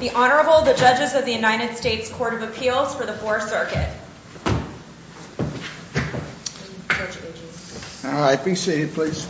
The Honorable, the Judges of the United States Court of Appeals for the Fourth Circuit. All right, be seated please.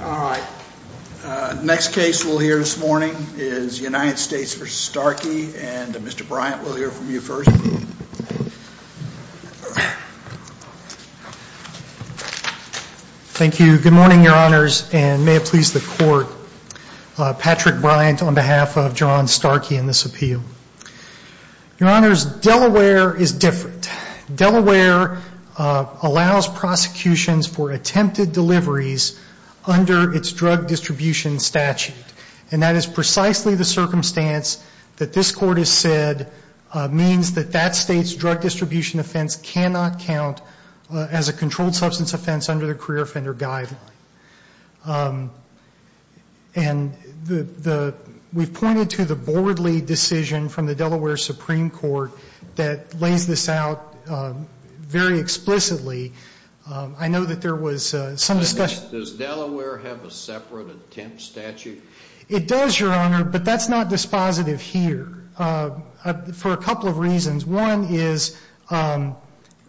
All right, next case we'll hear this morning is United States v. Starkey and Mr. Bryant will hear from you first. Thank you, good morning, Your Honors, and may it please the Court, Patrick Bryant on behalf of Jaron Starkey and this appeal. Your Honors, Delaware is different. Delaware allows prosecutions for attempted deliveries under its drug distribution statute and that is precisely the circumstance that this Court has said means that that state's drug distribution offense cannot count as a controlled substance offense under the career offender guideline. And we've pointed to the Boardley decision from the Delaware Supreme Court that lays this out very explicitly. I know that there was some discussion. Does Delaware have a separate attempt statute? It does, Your Honor, but that's not dispositive here for a couple of reasons. One is...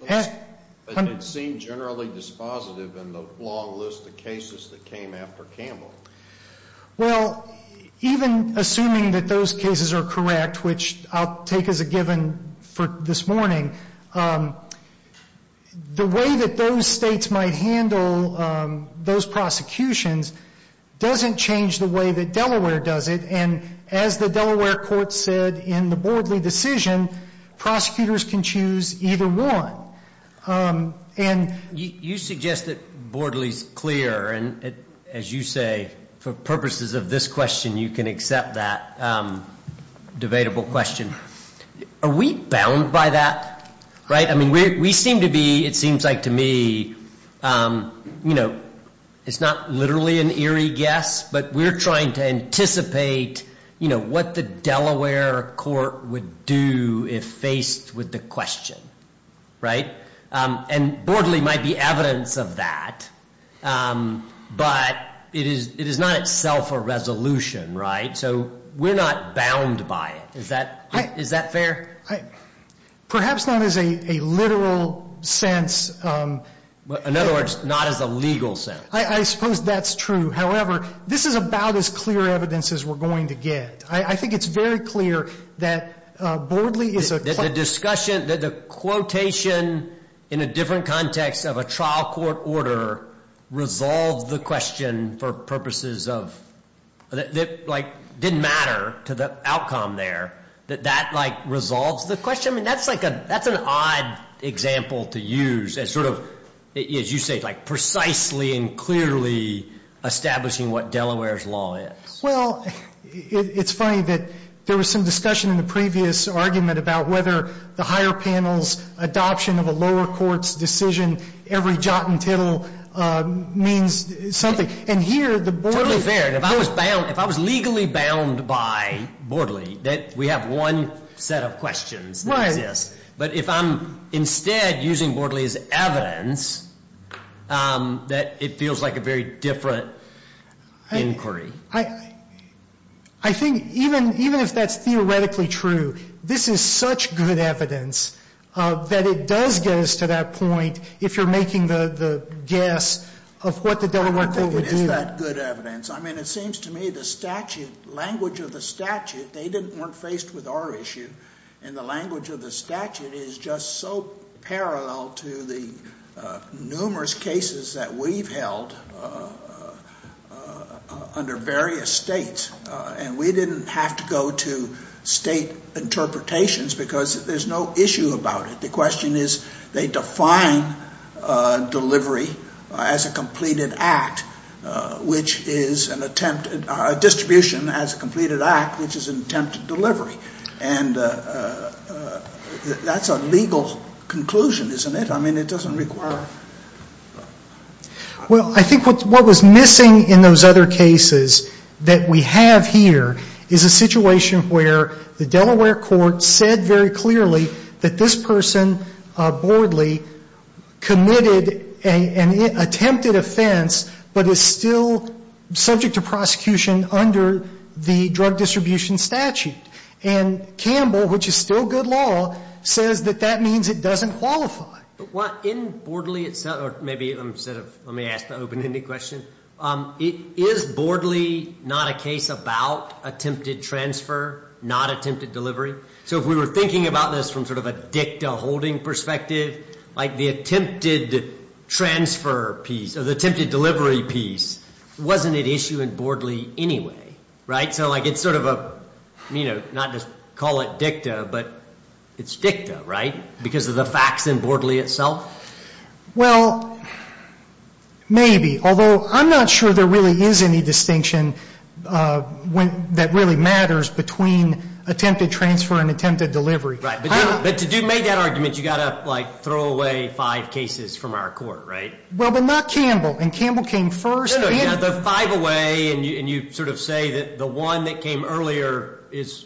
It seemed generally dispositive in the long list of cases that came after Campbell. Well, even assuming that those cases are correct, which I'll take as a given for this morning, the way that those states might handle those prosecutions doesn't change the way that Delaware does it and as the Delaware Court said in the Boardley decision, prosecutors can choose either one. You suggest that Boardley's clear and as you say, for purposes of this question, you can accept that debatable question. Are we bound by that? We seem to be, it seems like to me, it's not literally an eerie guess, but we're trying to anticipate what the Delaware Court would do if faced with the question. And Boardley might be evidence of that, but it is not itself a resolution, so we're not bound by it. Is that fair? Perhaps not as a literal sense. In other words, not as a legal sense. I suppose that's true. However, this is about as clear evidence as we're going to get. I think it's very clear that Boardley is a... The discussion, the quotation in a different context of a trial court order resolved the question for purposes of, that didn't matter to the outcome there, that that resolves the question. That's an odd example to use as you say, precisely and clearly establishing what Delaware's law is. Well, it's funny that there was some discussion in the previous argument about whether the adoption of a lower court's decision, every jot and tittle, means something. And here, the Boardley... Totally fair. If I was legally bound by Boardley, we have one set of questions that exist. But if I'm instead using Boardley as evidence, that it feels like a very different inquiry. I think even if that's theoretically true, this is such good evidence that it does get us to that point, if you're making the guess of what the Delaware court would do. I don't think it is that good evidence. I mean, it seems to me the statute, language of the statute, they weren't faced with our issue. And the language of the statute is just so parallel to the numerous cases that we've held under various states. And we didn't have to go to state interpretations because there's no issue about it. The question is, they define delivery as a completed act, which is an attempt, a distribution as a completed act, which is an attempt to delivery. And that's a legal conclusion, isn't it? But I mean, it doesn't require... Well I think what was missing in those other cases that we have here is a situation where the Delaware court said very clearly that this person, Boardley, committed an attempted offense but is still subject to prosecution under the drug distribution statute. And Campbell, which is still good law, says that that means it doesn't qualify. In Boardley itself, or maybe instead of, let me ask the open-ended question, is Boardley not a case about attempted transfer, not attempted delivery? So if we were thinking about this from sort of a dicta holding perspective, like the attempted transfer piece or the attempted delivery piece, wasn't it issue in Boardley anyway, right? So like it's sort of a, you know, not to call it dicta, but it's dicta, right? Because of the facts in Boardley itself? Well, maybe, although I'm not sure there really is any distinction that really matters between attempted transfer and attempted delivery. Right. But to make that argument, you've got to like throw away five cases from our court, right? Well but not Campbell. And Campbell came first. No, no, no. You have the five away and you sort of say that the one that came earlier is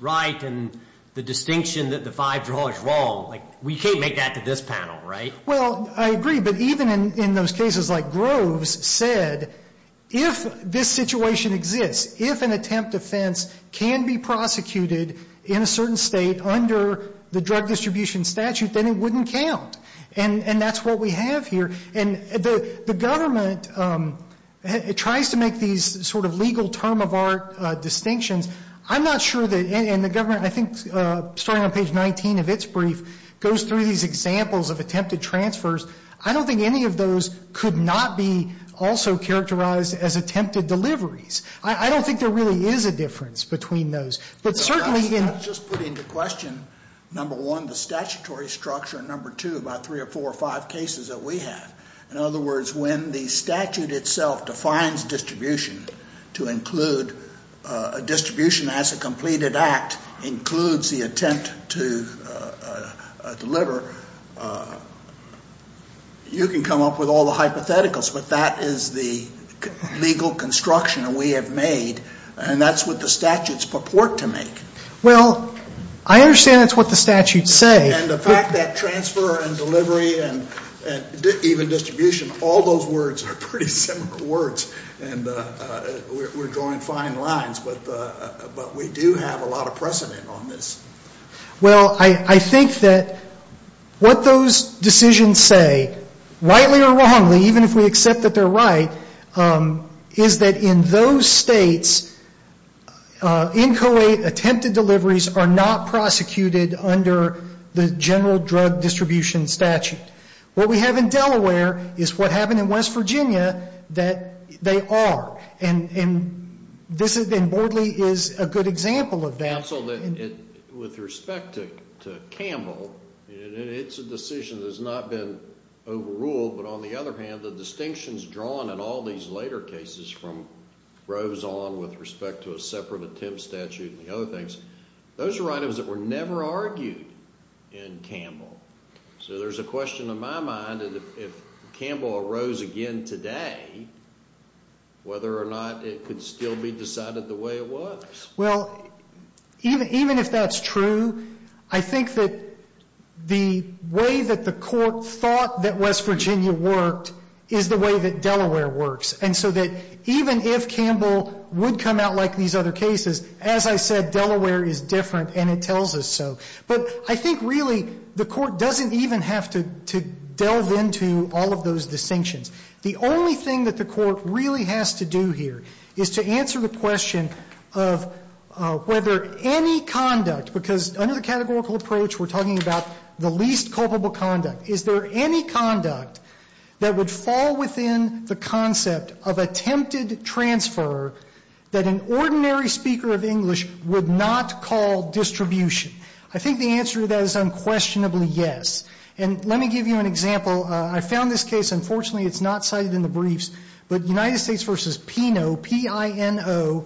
right and the distinction that the five draw is wrong. We can't make that to this panel, right? Well, I agree. But even in those cases like Groves said, if this situation exists, if an attempt offense can be prosecuted in a certain state under the drug distribution statute, then it wouldn't count. And that's what we have here. And the government tries to make these sort of legal term of art distinctions. I'm not sure that, and the government, I think, starting on page 19 of its brief, goes through these examples of attempted transfers. I don't think any of those could not be also characterized as attempted deliveries. I don't think there really is a difference between those. But certainly in- I was just putting into question, number one, the statutory structure, and number two, about three or four or five cases that we have. In other words, when the statute itself defines distribution to include a distribution as a completed act includes the attempt to deliver, you can come up with all the hypotheticals, but that is the legal construction that we have made, and that's what the statutes purport to make. Well, I understand that's what the statutes say. And the fact that transfer and delivery and even distribution, all those words are pretty similar words, and we're drawing fine lines, but we do have a lot of precedent on this. Well, I think that what those decisions say, rightly or wrongly, even if we accept that they're right, is that in those states, inchoate attempted deliveries are not prosecuted under the general drug distribution statute. What we have in Delaware is what happened in West Virginia that they are, and Bordley is a good example of that. Counsel, with respect to Campbell, it's a decision that's not been overruled, but on the other hand, the distinctions drawn in all these later cases from Rose on with respect to a separate attempt statute and the other things, those are items that were never argued in Campbell. So, there's a question in my mind, if Campbell arose again today, whether or not it could still be decided the way it was. Well, even if that's true, I think that the way that the court thought that West Virginia worked is the way that Delaware works, and so that even if Campbell would come out like these other cases, as I said, Delaware is different, and it tells us so. But I think, really, the court doesn't even have to delve into all of those distinctions. The only thing that the court really has to do here is to answer the question of whether any conduct, because under the categorical approach, we're talking about the least culpable conduct. Is there any conduct that would fall within the concept of attempted transfer that an ordinary speaker of English would not call distribution? I think the answer to that is unquestionably yes. And let me give you an example. I found this case, unfortunately, it's not cited in the briefs, but United States v. Pino, P-I-N-O,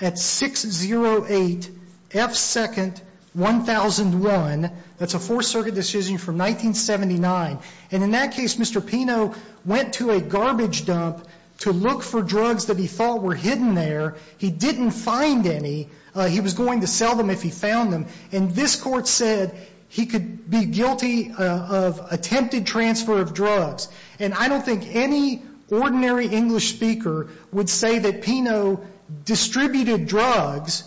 at 608 F. 2nd, 1001. That's a Fourth Circuit decision from 1979. And in that case, Mr. Pino went to a garbage dump to look for drugs that he thought were hidden there. He didn't find any. He was going to sell them if he found them. And this court said he could be guilty of attempted transfer of drugs. And I don't think any ordinary English speaker would say that Pino distributed drugs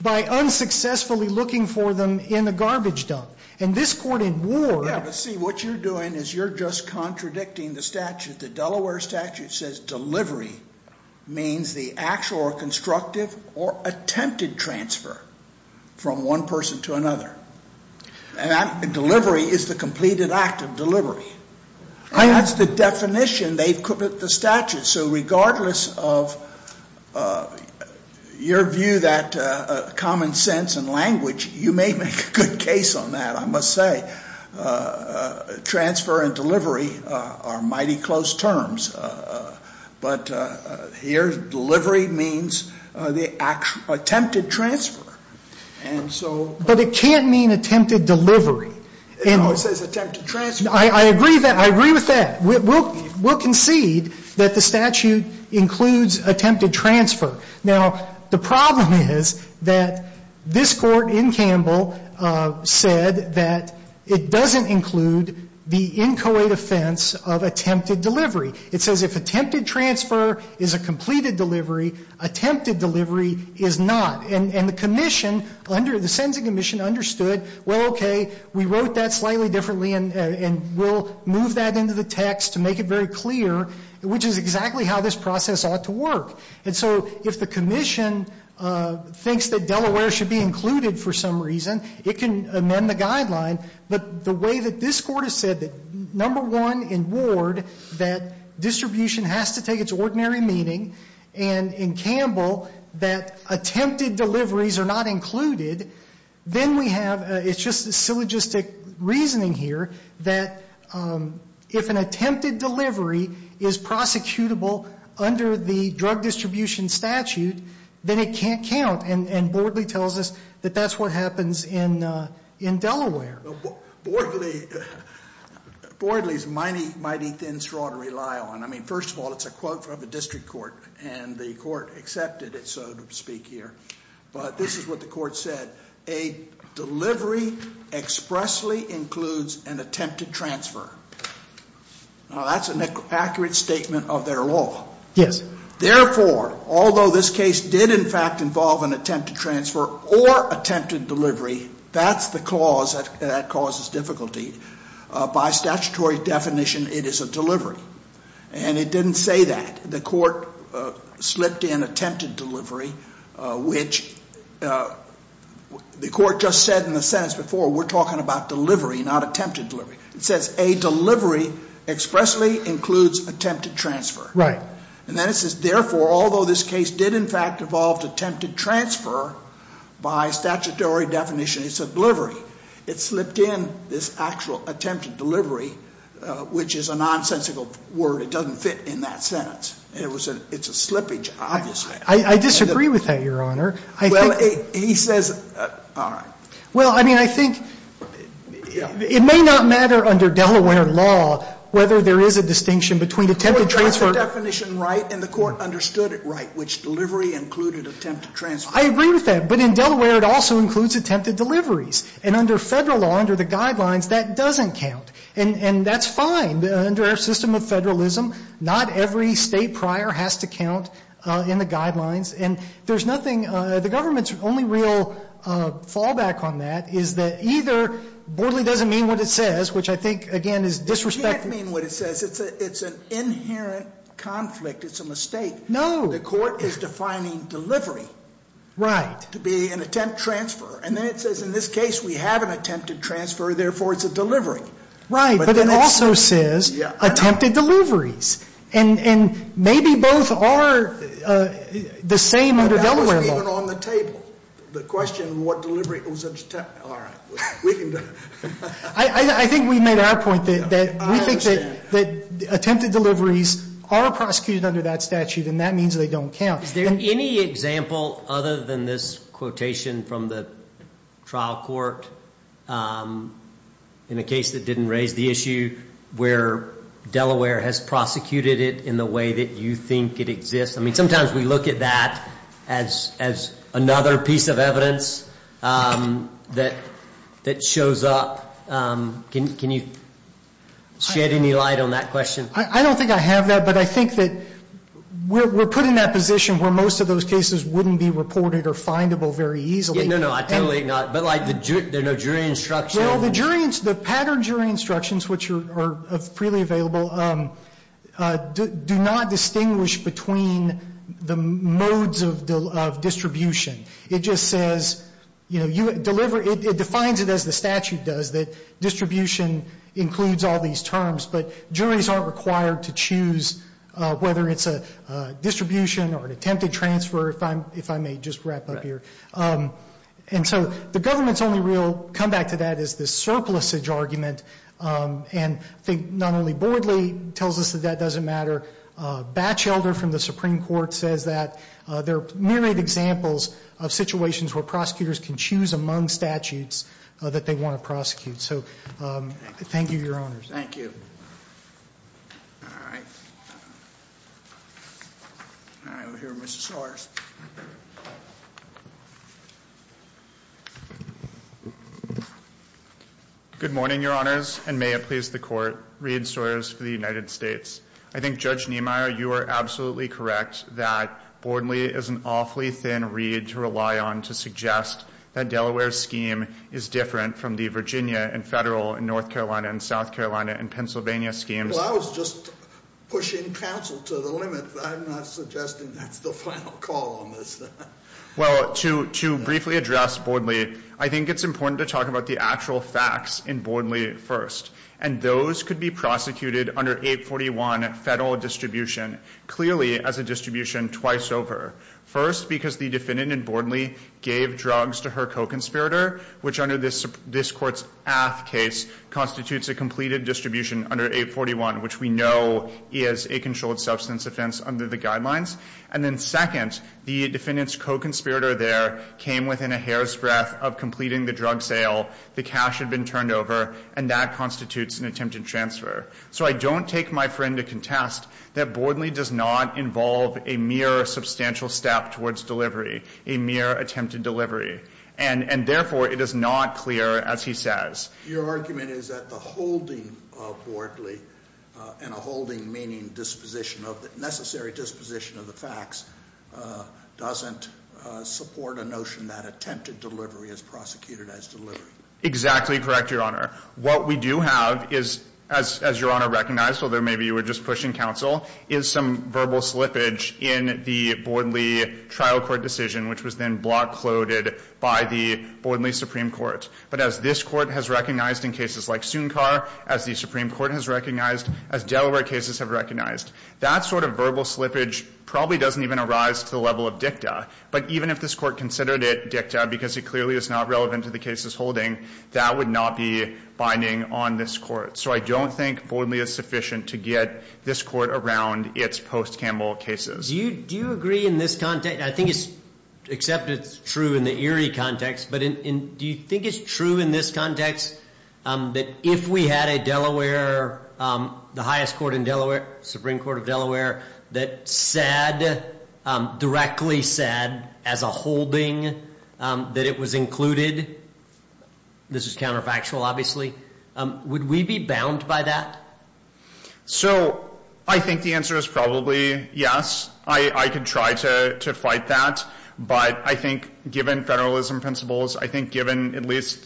by unsuccessfully looking for them in the garbage dump. And this court in war… Yeah, but see, what you're doing is you're just contradicting the statute. The Delaware statute says delivery means the actual or constructive or attempted transfer from one person to another. Delivery is the completed act of delivery. That's the definition. They've quibbled the statute. So regardless of your view that common sense and language, you may make a good case on that, I must say. Transfer and delivery are mighty close terms. But here, delivery means the actual attempted transfer. And so… But it can't mean attempted delivery. No, it says attempted transfer. I agree with that. We'll concede that the statute includes attempted transfer. Now the problem is that this court in Campbell said that it doesn't include the inchoate offense of attempted delivery. It says if attempted transfer is a completed delivery, attempted delivery is not. And the commission, the Sensing Commission understood, well, okay, we wrote that slightly differently, and we'll move that into the text to make it very clear, which is exactly how this process ought to work. And so if the commission thinks that Delaware should be included for some reason, it can amend the guideline. But the way that this court has said that, number one, in Ward, that distribution has to take its ordinary meaning, and in Campbell, that attempted deliveries are not included, then we have, it's just syllogistic reasoning here, that if an attempted delivery is prosecutable under the drug distribution statute, then it can't count. And Bordley tells us that that's what happens in Delaware. Bordley's mighty, mighty thin straw to rely on. I mean, first of all, it's a quote from a district court, and the court accepted it, so to speak, here. But this is what the court said. A delivery expressly includes an attempted transfer. Now, that's an accurate statement of their law. Yes. Therefore, although this case did, in fact, involve an attempted transfer or attempted delivery, that's the clause that causes difficulty. By statutory definition, it is a delivery. And it didn't say that. The court slipped in attempted delivery, which the court just said in the sentence before, we're talking about delivery, not attempted delivery. It says a delivery expressly includes attempted transfer. Right. And then it says, therefore, although this case did, in fact, involve attempted transfer, by statutory definition, it's a delivery. It slipped in this actual attempted delivery, which is a nonsensical word. It doesn't fit in that sentence. It's a slippage, obviously. I disagree with that, Your Honor. Well, he says, all right. Well, I mean, I think it may not matter under Delaware law whether there is a distinction between attempted transfer. Well, you got the definition right, and the court understood it right, which delivery included attempted transfer. I agree with that. But in Delaware, it also includes attempted deliveries. And under federal law, under the guidelines, that doesn't count. And that's fine. Under our system of federalism, not every state prior has to count in the guidelines. And there's nothing, the government's only real fallback on that is that either, borderly doesn't mean what it says, which I think, again, is disrespectful. It can't mean what it says. It's an inherent conflict. It's a mistake. No. The court is defining delivery to be an attempt transfer. And then it says, in this case, we have an attempted transfer. Therefore, it's a delivery. Right, but it also says attempted deliveries. And maybe both are the same under Delaware law. But that wasn't even on the table. The question, what delivery, all right, we can do it. I think we made our point that we think that attempted deliveries are prosecuted under that statute, and that means they don't count. Is there any example, other than this quotation from the trial court, in a case that didn't raise the issue, where Delaware has prosecuted it in the way that you think it exists? I mean, sometimes we look at that as another piece of evidence that shows up. Can you shed any light on that question? I don't think I have that, but I think that we're put in that position where most of those cases wouldn't be reported or findable very easily. No, no, I totally acknowledge, but like the jury instruction. Well, the jury, the pattern jury instructions, which are freely available, do not distinguish between the modes of distribution. It just says, it defines it as the statute does, that distribution includes all these terms, but juries aren't required to choose whether it's a distribution or an attempted transfer, if I may just wrap up here. And so the government's only real comeback to that is this surplusage argument, and I think not only Bordley tells us that that doesn't matter. Batchelder from the Supreme Court says that there are myriad examples of situations where prosecutors can choose among statutes that they want to prosecute. So, thank you, your honors. Thank you. All right. All right, we'll hear from Mr. Sawyers. Good morning, your honors, and may it please the court. Reed Sawyers for the United States. I think Judge Niemeyer, you are absolutely correct that Bordley is an awfully thin reed to rely on to suggest that Delaware's scheme is different from the Virginia and federal and North Carolina and South Carolina and Pennsylvania schemes. Well, I was just pushing counsel to the limit, but I'm not suggesting that's the final call on this. Well, to briefly address Bordley, I think it's important to talk about the actual facts in Bordley first. And those could be prosecuted under 841 federal distribution, clearly as a distribution twice over. First, because the defendant in Bordley gave drugs to her co-conspirator, which under this court's AFT case constitutes a completed distribution under 841, which we know is a controlled substance offense under the guidelines. And then second, the defendant's co-conspirator there came within a hair's breadth of completing the drug sale. The cash had been turned over, and that constitutes an attempted transfer. So I don't take my friend to contest that Bordley does not involve a mere substantial step towards delivery, a mere attempted delivery. And therefore, it is not clear, as he says. Your argument is that the holding of Bordley and a holding meaning disposition of the necessary disposition of the facts doesn't support a notion that attempted delivery is prosecuted as delivery. Exactly correct, Your Honor. What we do have is, as Your Honor recognized, although maybe you were just pushing counsel, is some verbal slippage in the Bordley trial court decision, which was then block loaded by the Bordley Supreme Court. But as this court has recognized in cases like Sunkar, as the Supreme Court has recognized, as Delaware cases have recognized, that sort of verbal slippage probably doesn't even arise to the level of dicta. But even if this court considered it dicta, because it clearly is not relevant to the case's holding, that would not be binding on this court. So I don't think Bordley is sufficient to get this court around its post-Campbell cases. Do you agree in this context, and I think it's, except it's true in the Erie context. But do you think it's true in this context that if we had a Delaware, the highest court in Delaware, Supreme Court of Delaware, that said, directly said, as a holding, that it was included. This is counterfactual, obviously. Would we be bound by that? So, I think the answer is probably yes. I could try to fight that, but I think given federalism principles, I think given at least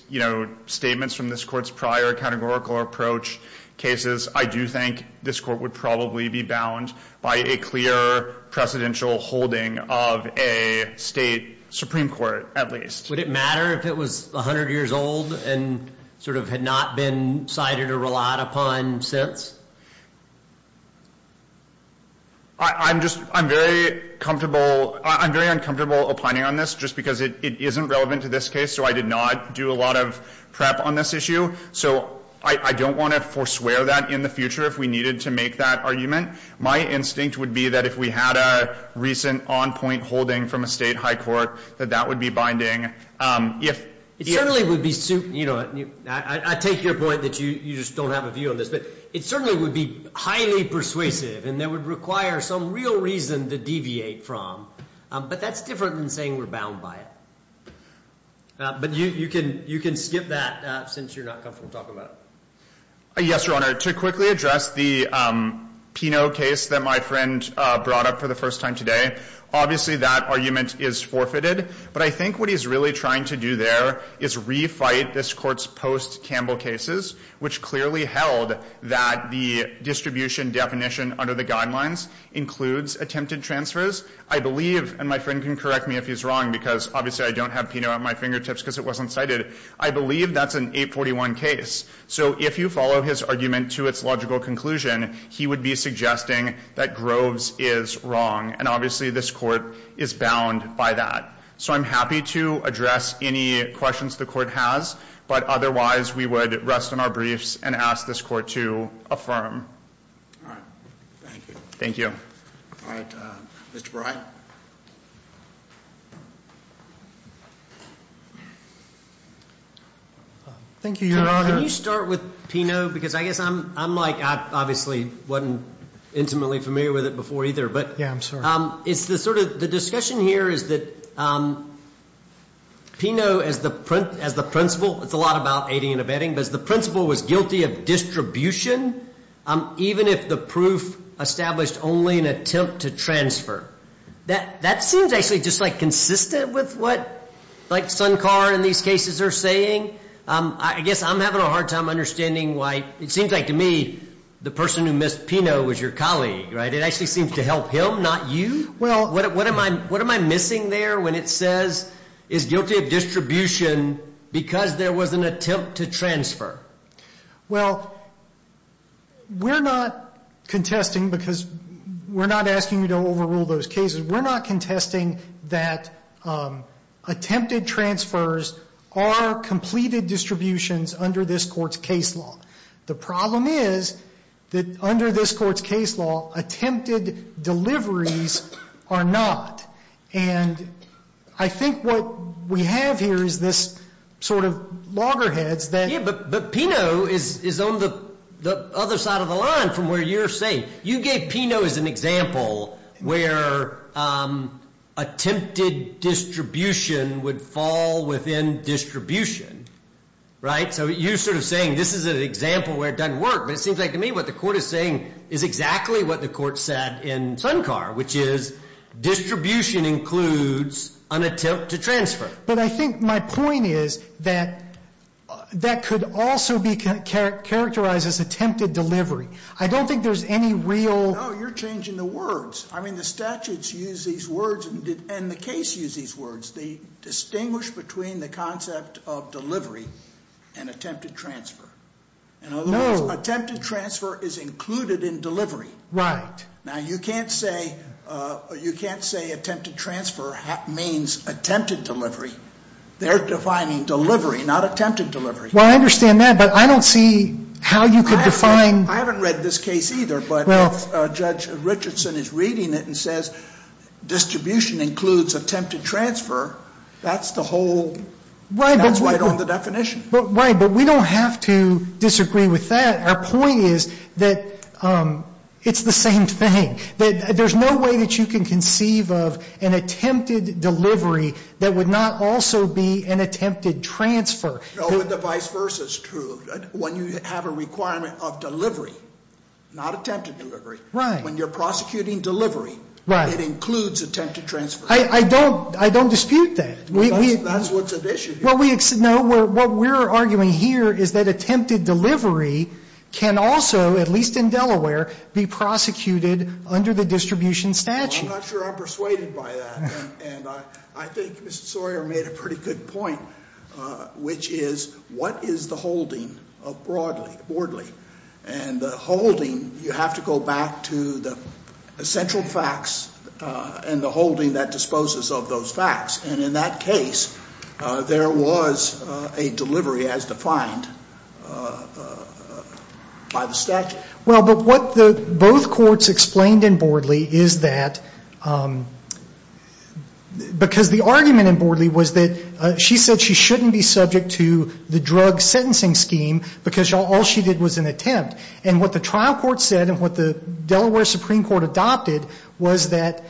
statements from this court's prior categorical approach cases, I do think this court would probably be bound by a clear precedential holding of a state Supreme Court, at least. Would it matter if it was 100 years old and sort of had not been cited or relied upon since? I'm just, I'm very comfortable, I'm very uncomfortable opining on this just because it isn't relevant to this case. So I did not do a lot of prep on this issue. So I don't want to forswear that in the future if we needed to make that argument. My instinct would be that if we had a recent on point holding from a state high court, that that would be binding. If- You know, I take your point that you just don't have a view on this. But it certainly would be highly persuasive, and that would require some real reason to deviate from. But that's different than saying we're bound by it. But you can skip that since you're not comfortable talking about it. Yes, your honor. To quickly address the Pino case that my friend brought up for the first time today. Obviously, that argument is forfeited. But I think what he's really trying to do there is refight this court's post-Campbell cases, which clearly held that the distribution definition under the guidelines includes attempted transfers. I believe, and my friend can correct me if he's wrong because obviously I don't have Pino at my fingertips because it wasn't cited. I believe that's an 841 case. So if you follow his argument to its logical conclusion, he would be suggesting that Groves is wrong. And obviously, this court is bound by that. So I'm happy to address any questions the court has. But otherwise, we would rest on our briefs and ask this court to affirm. All right, thank you. Thank you. All right, Mr. Brey? Thank you, your honor. Can you start with Pino? Because I guess I'm like, I obviously wasn't intimately familiar with it before either. Yeah, I'm sorry. It's the sort of, the discussion here is that Pino, as the principal, it's a lot about aiding and abetting. But as the principal was guilty of distribution, even if the proof established only an attempt to transfer. That seems actually just like consistent with what like Sunkar in these cases are saying. I guess I'm having a hard time understanding why, it seems like to me, the person who missed Pino was your colleague, right? It actually seems to help him, not you? Well, what am I missing there when it says is guilty of distribution because there was an attempt to transfer? Well, we're not contesting because we're not asking you to overrule those cases. We're not contesting that attempted transfers are completed distributions under this court's case law. The problem is that under this court's case law, attempted deliveries are not. And I think what we have here is this sort of loggerheads that. Yeah, but Pino is on the other side of the line from where you're saying. You gave Pino as an example where attempted distribution would fall within distribution, right? So you're sort of saying this is an example where it doesn't work. But it seems like to me what the court is saying is exactly what the court said in Sunkar, which is distribution includes an attempt to transfer. But I think my point is that that could also be characterized as attempted delivery. I don't think there's any real- No, you're changing the words. I mean, the statutes use these words and the case use these words. They distinguish between the concept of delivery and attempted transfer. In other words, attempted transfer is included in delivery. Right. Now, you can't say attempted transfer means attempted delivery. They're defining delivery, not attempted delivery. Well, I understand that, but I don't see how you could define- I haven't read this case either. But if Judge Richardson is reading it and says distribution includes attempted transfer, that's the whole- Right. That's right on the definition. Right, but we don't have to disagree with that. Our point is that it's the same thing. That there's no way that you can conceive of an attempted delivery that would not also be an attempted transfer. No, but the vice versa is true. When you have a requirement of delivery, not attempted delivery, when you're prosecuting delivery, it includes attempted transfer. I don't dispute that. That's what's at issue here. No, what we're arguing here is that attempted delivery can also, at least in Delaware, be prosecuted under the distribution statute. I'm not sure I'm persuaded by that. And I think Mr. Sawyer made a pretty good point, which is what is the holding of Bordley? And the holding, you have to go back to the central facts and the holding that disposes of those facts. And in that case, there was a delivery as defined by the statute. Well, but what both courts explained in Bordley is that, because the argument in Bordley was that she said she shouldn't be subject to the drug sentencing scheme because all she did was an attempt. And what the trial court said and what the Delaware Supreme Court adopted was that,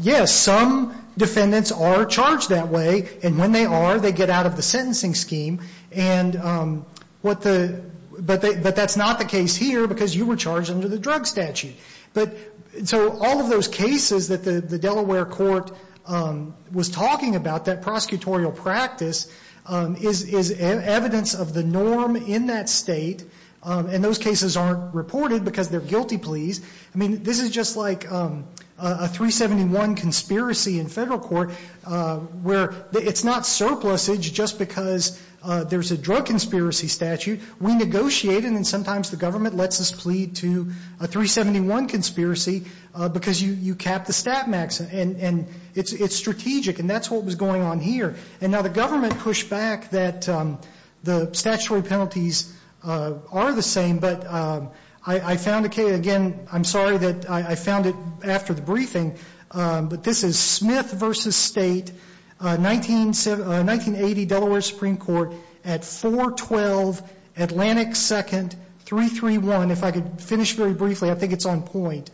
yes, some defendants are charged that way, and when they are, they get out of the sentencing scheme. But that's not the case here, because you were charged under the drug statute. So all of those cases that the Delaware court was talking about, that prosecutorial practice, is evidence of the norm in that state. And those cases aren't reported because they're guilty pleas. I mean, this is just like a 371 conspiracy in federal court, where it's not surplusage just because there's a drug conspiracy statute. We negotiate, and then sometimes the government lets us plead to a 371 conspiracy because you cap the stat max. And it's strategic, and that's what was going on here. And now the government pushed back that the statutory penalties are the same, but I found a case, again, I'm sorry that I found it after the briefing. But this is Smith v. State, 1980 Delaware Supreme Court, at 412 Atlantic 2nd, 331. If I could finish very briefly, I think it's on point.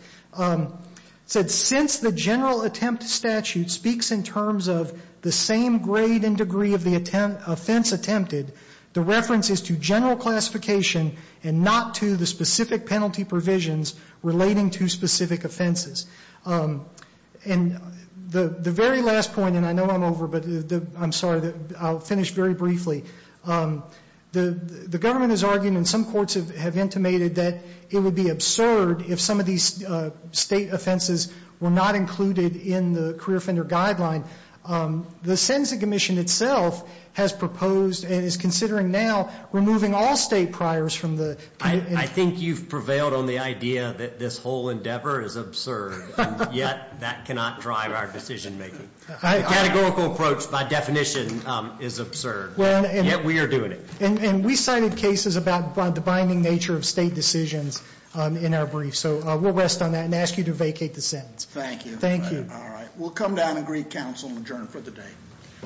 Said, since the general attempt statute speaks in terms of the same grade and degree of the offense attempted, the reference is to general classification and not to the specific penalty provisions relating to specific offenses. And the very last point, and I know I'm over, but I'm sorry, I'll finish very briefly. The government is arguing, and some courts have intimated, that it would be absurd if some of these state offenses were not included in the career offender guideline. The Census Commission itself has proposed, and is considering now, removing all state priors from the- I think you've prevailed on the idea that this whole endeavor is absurd, and yet that cannot drive our decision making. The categorical approach, by definition, is absurd, yet we are doing it. And we cited cases about the binding nature of state decisions in our brief, so we'll rest on that and ask you to vacate the sentence. Thank you. Thank you. All right, we'll come down and greet counsel and adjourn for the day.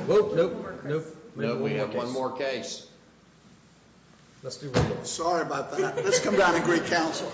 Nope, nope, nope. We have one more case. Let's do one more. Sorry about that. Let's come down and greet counsel.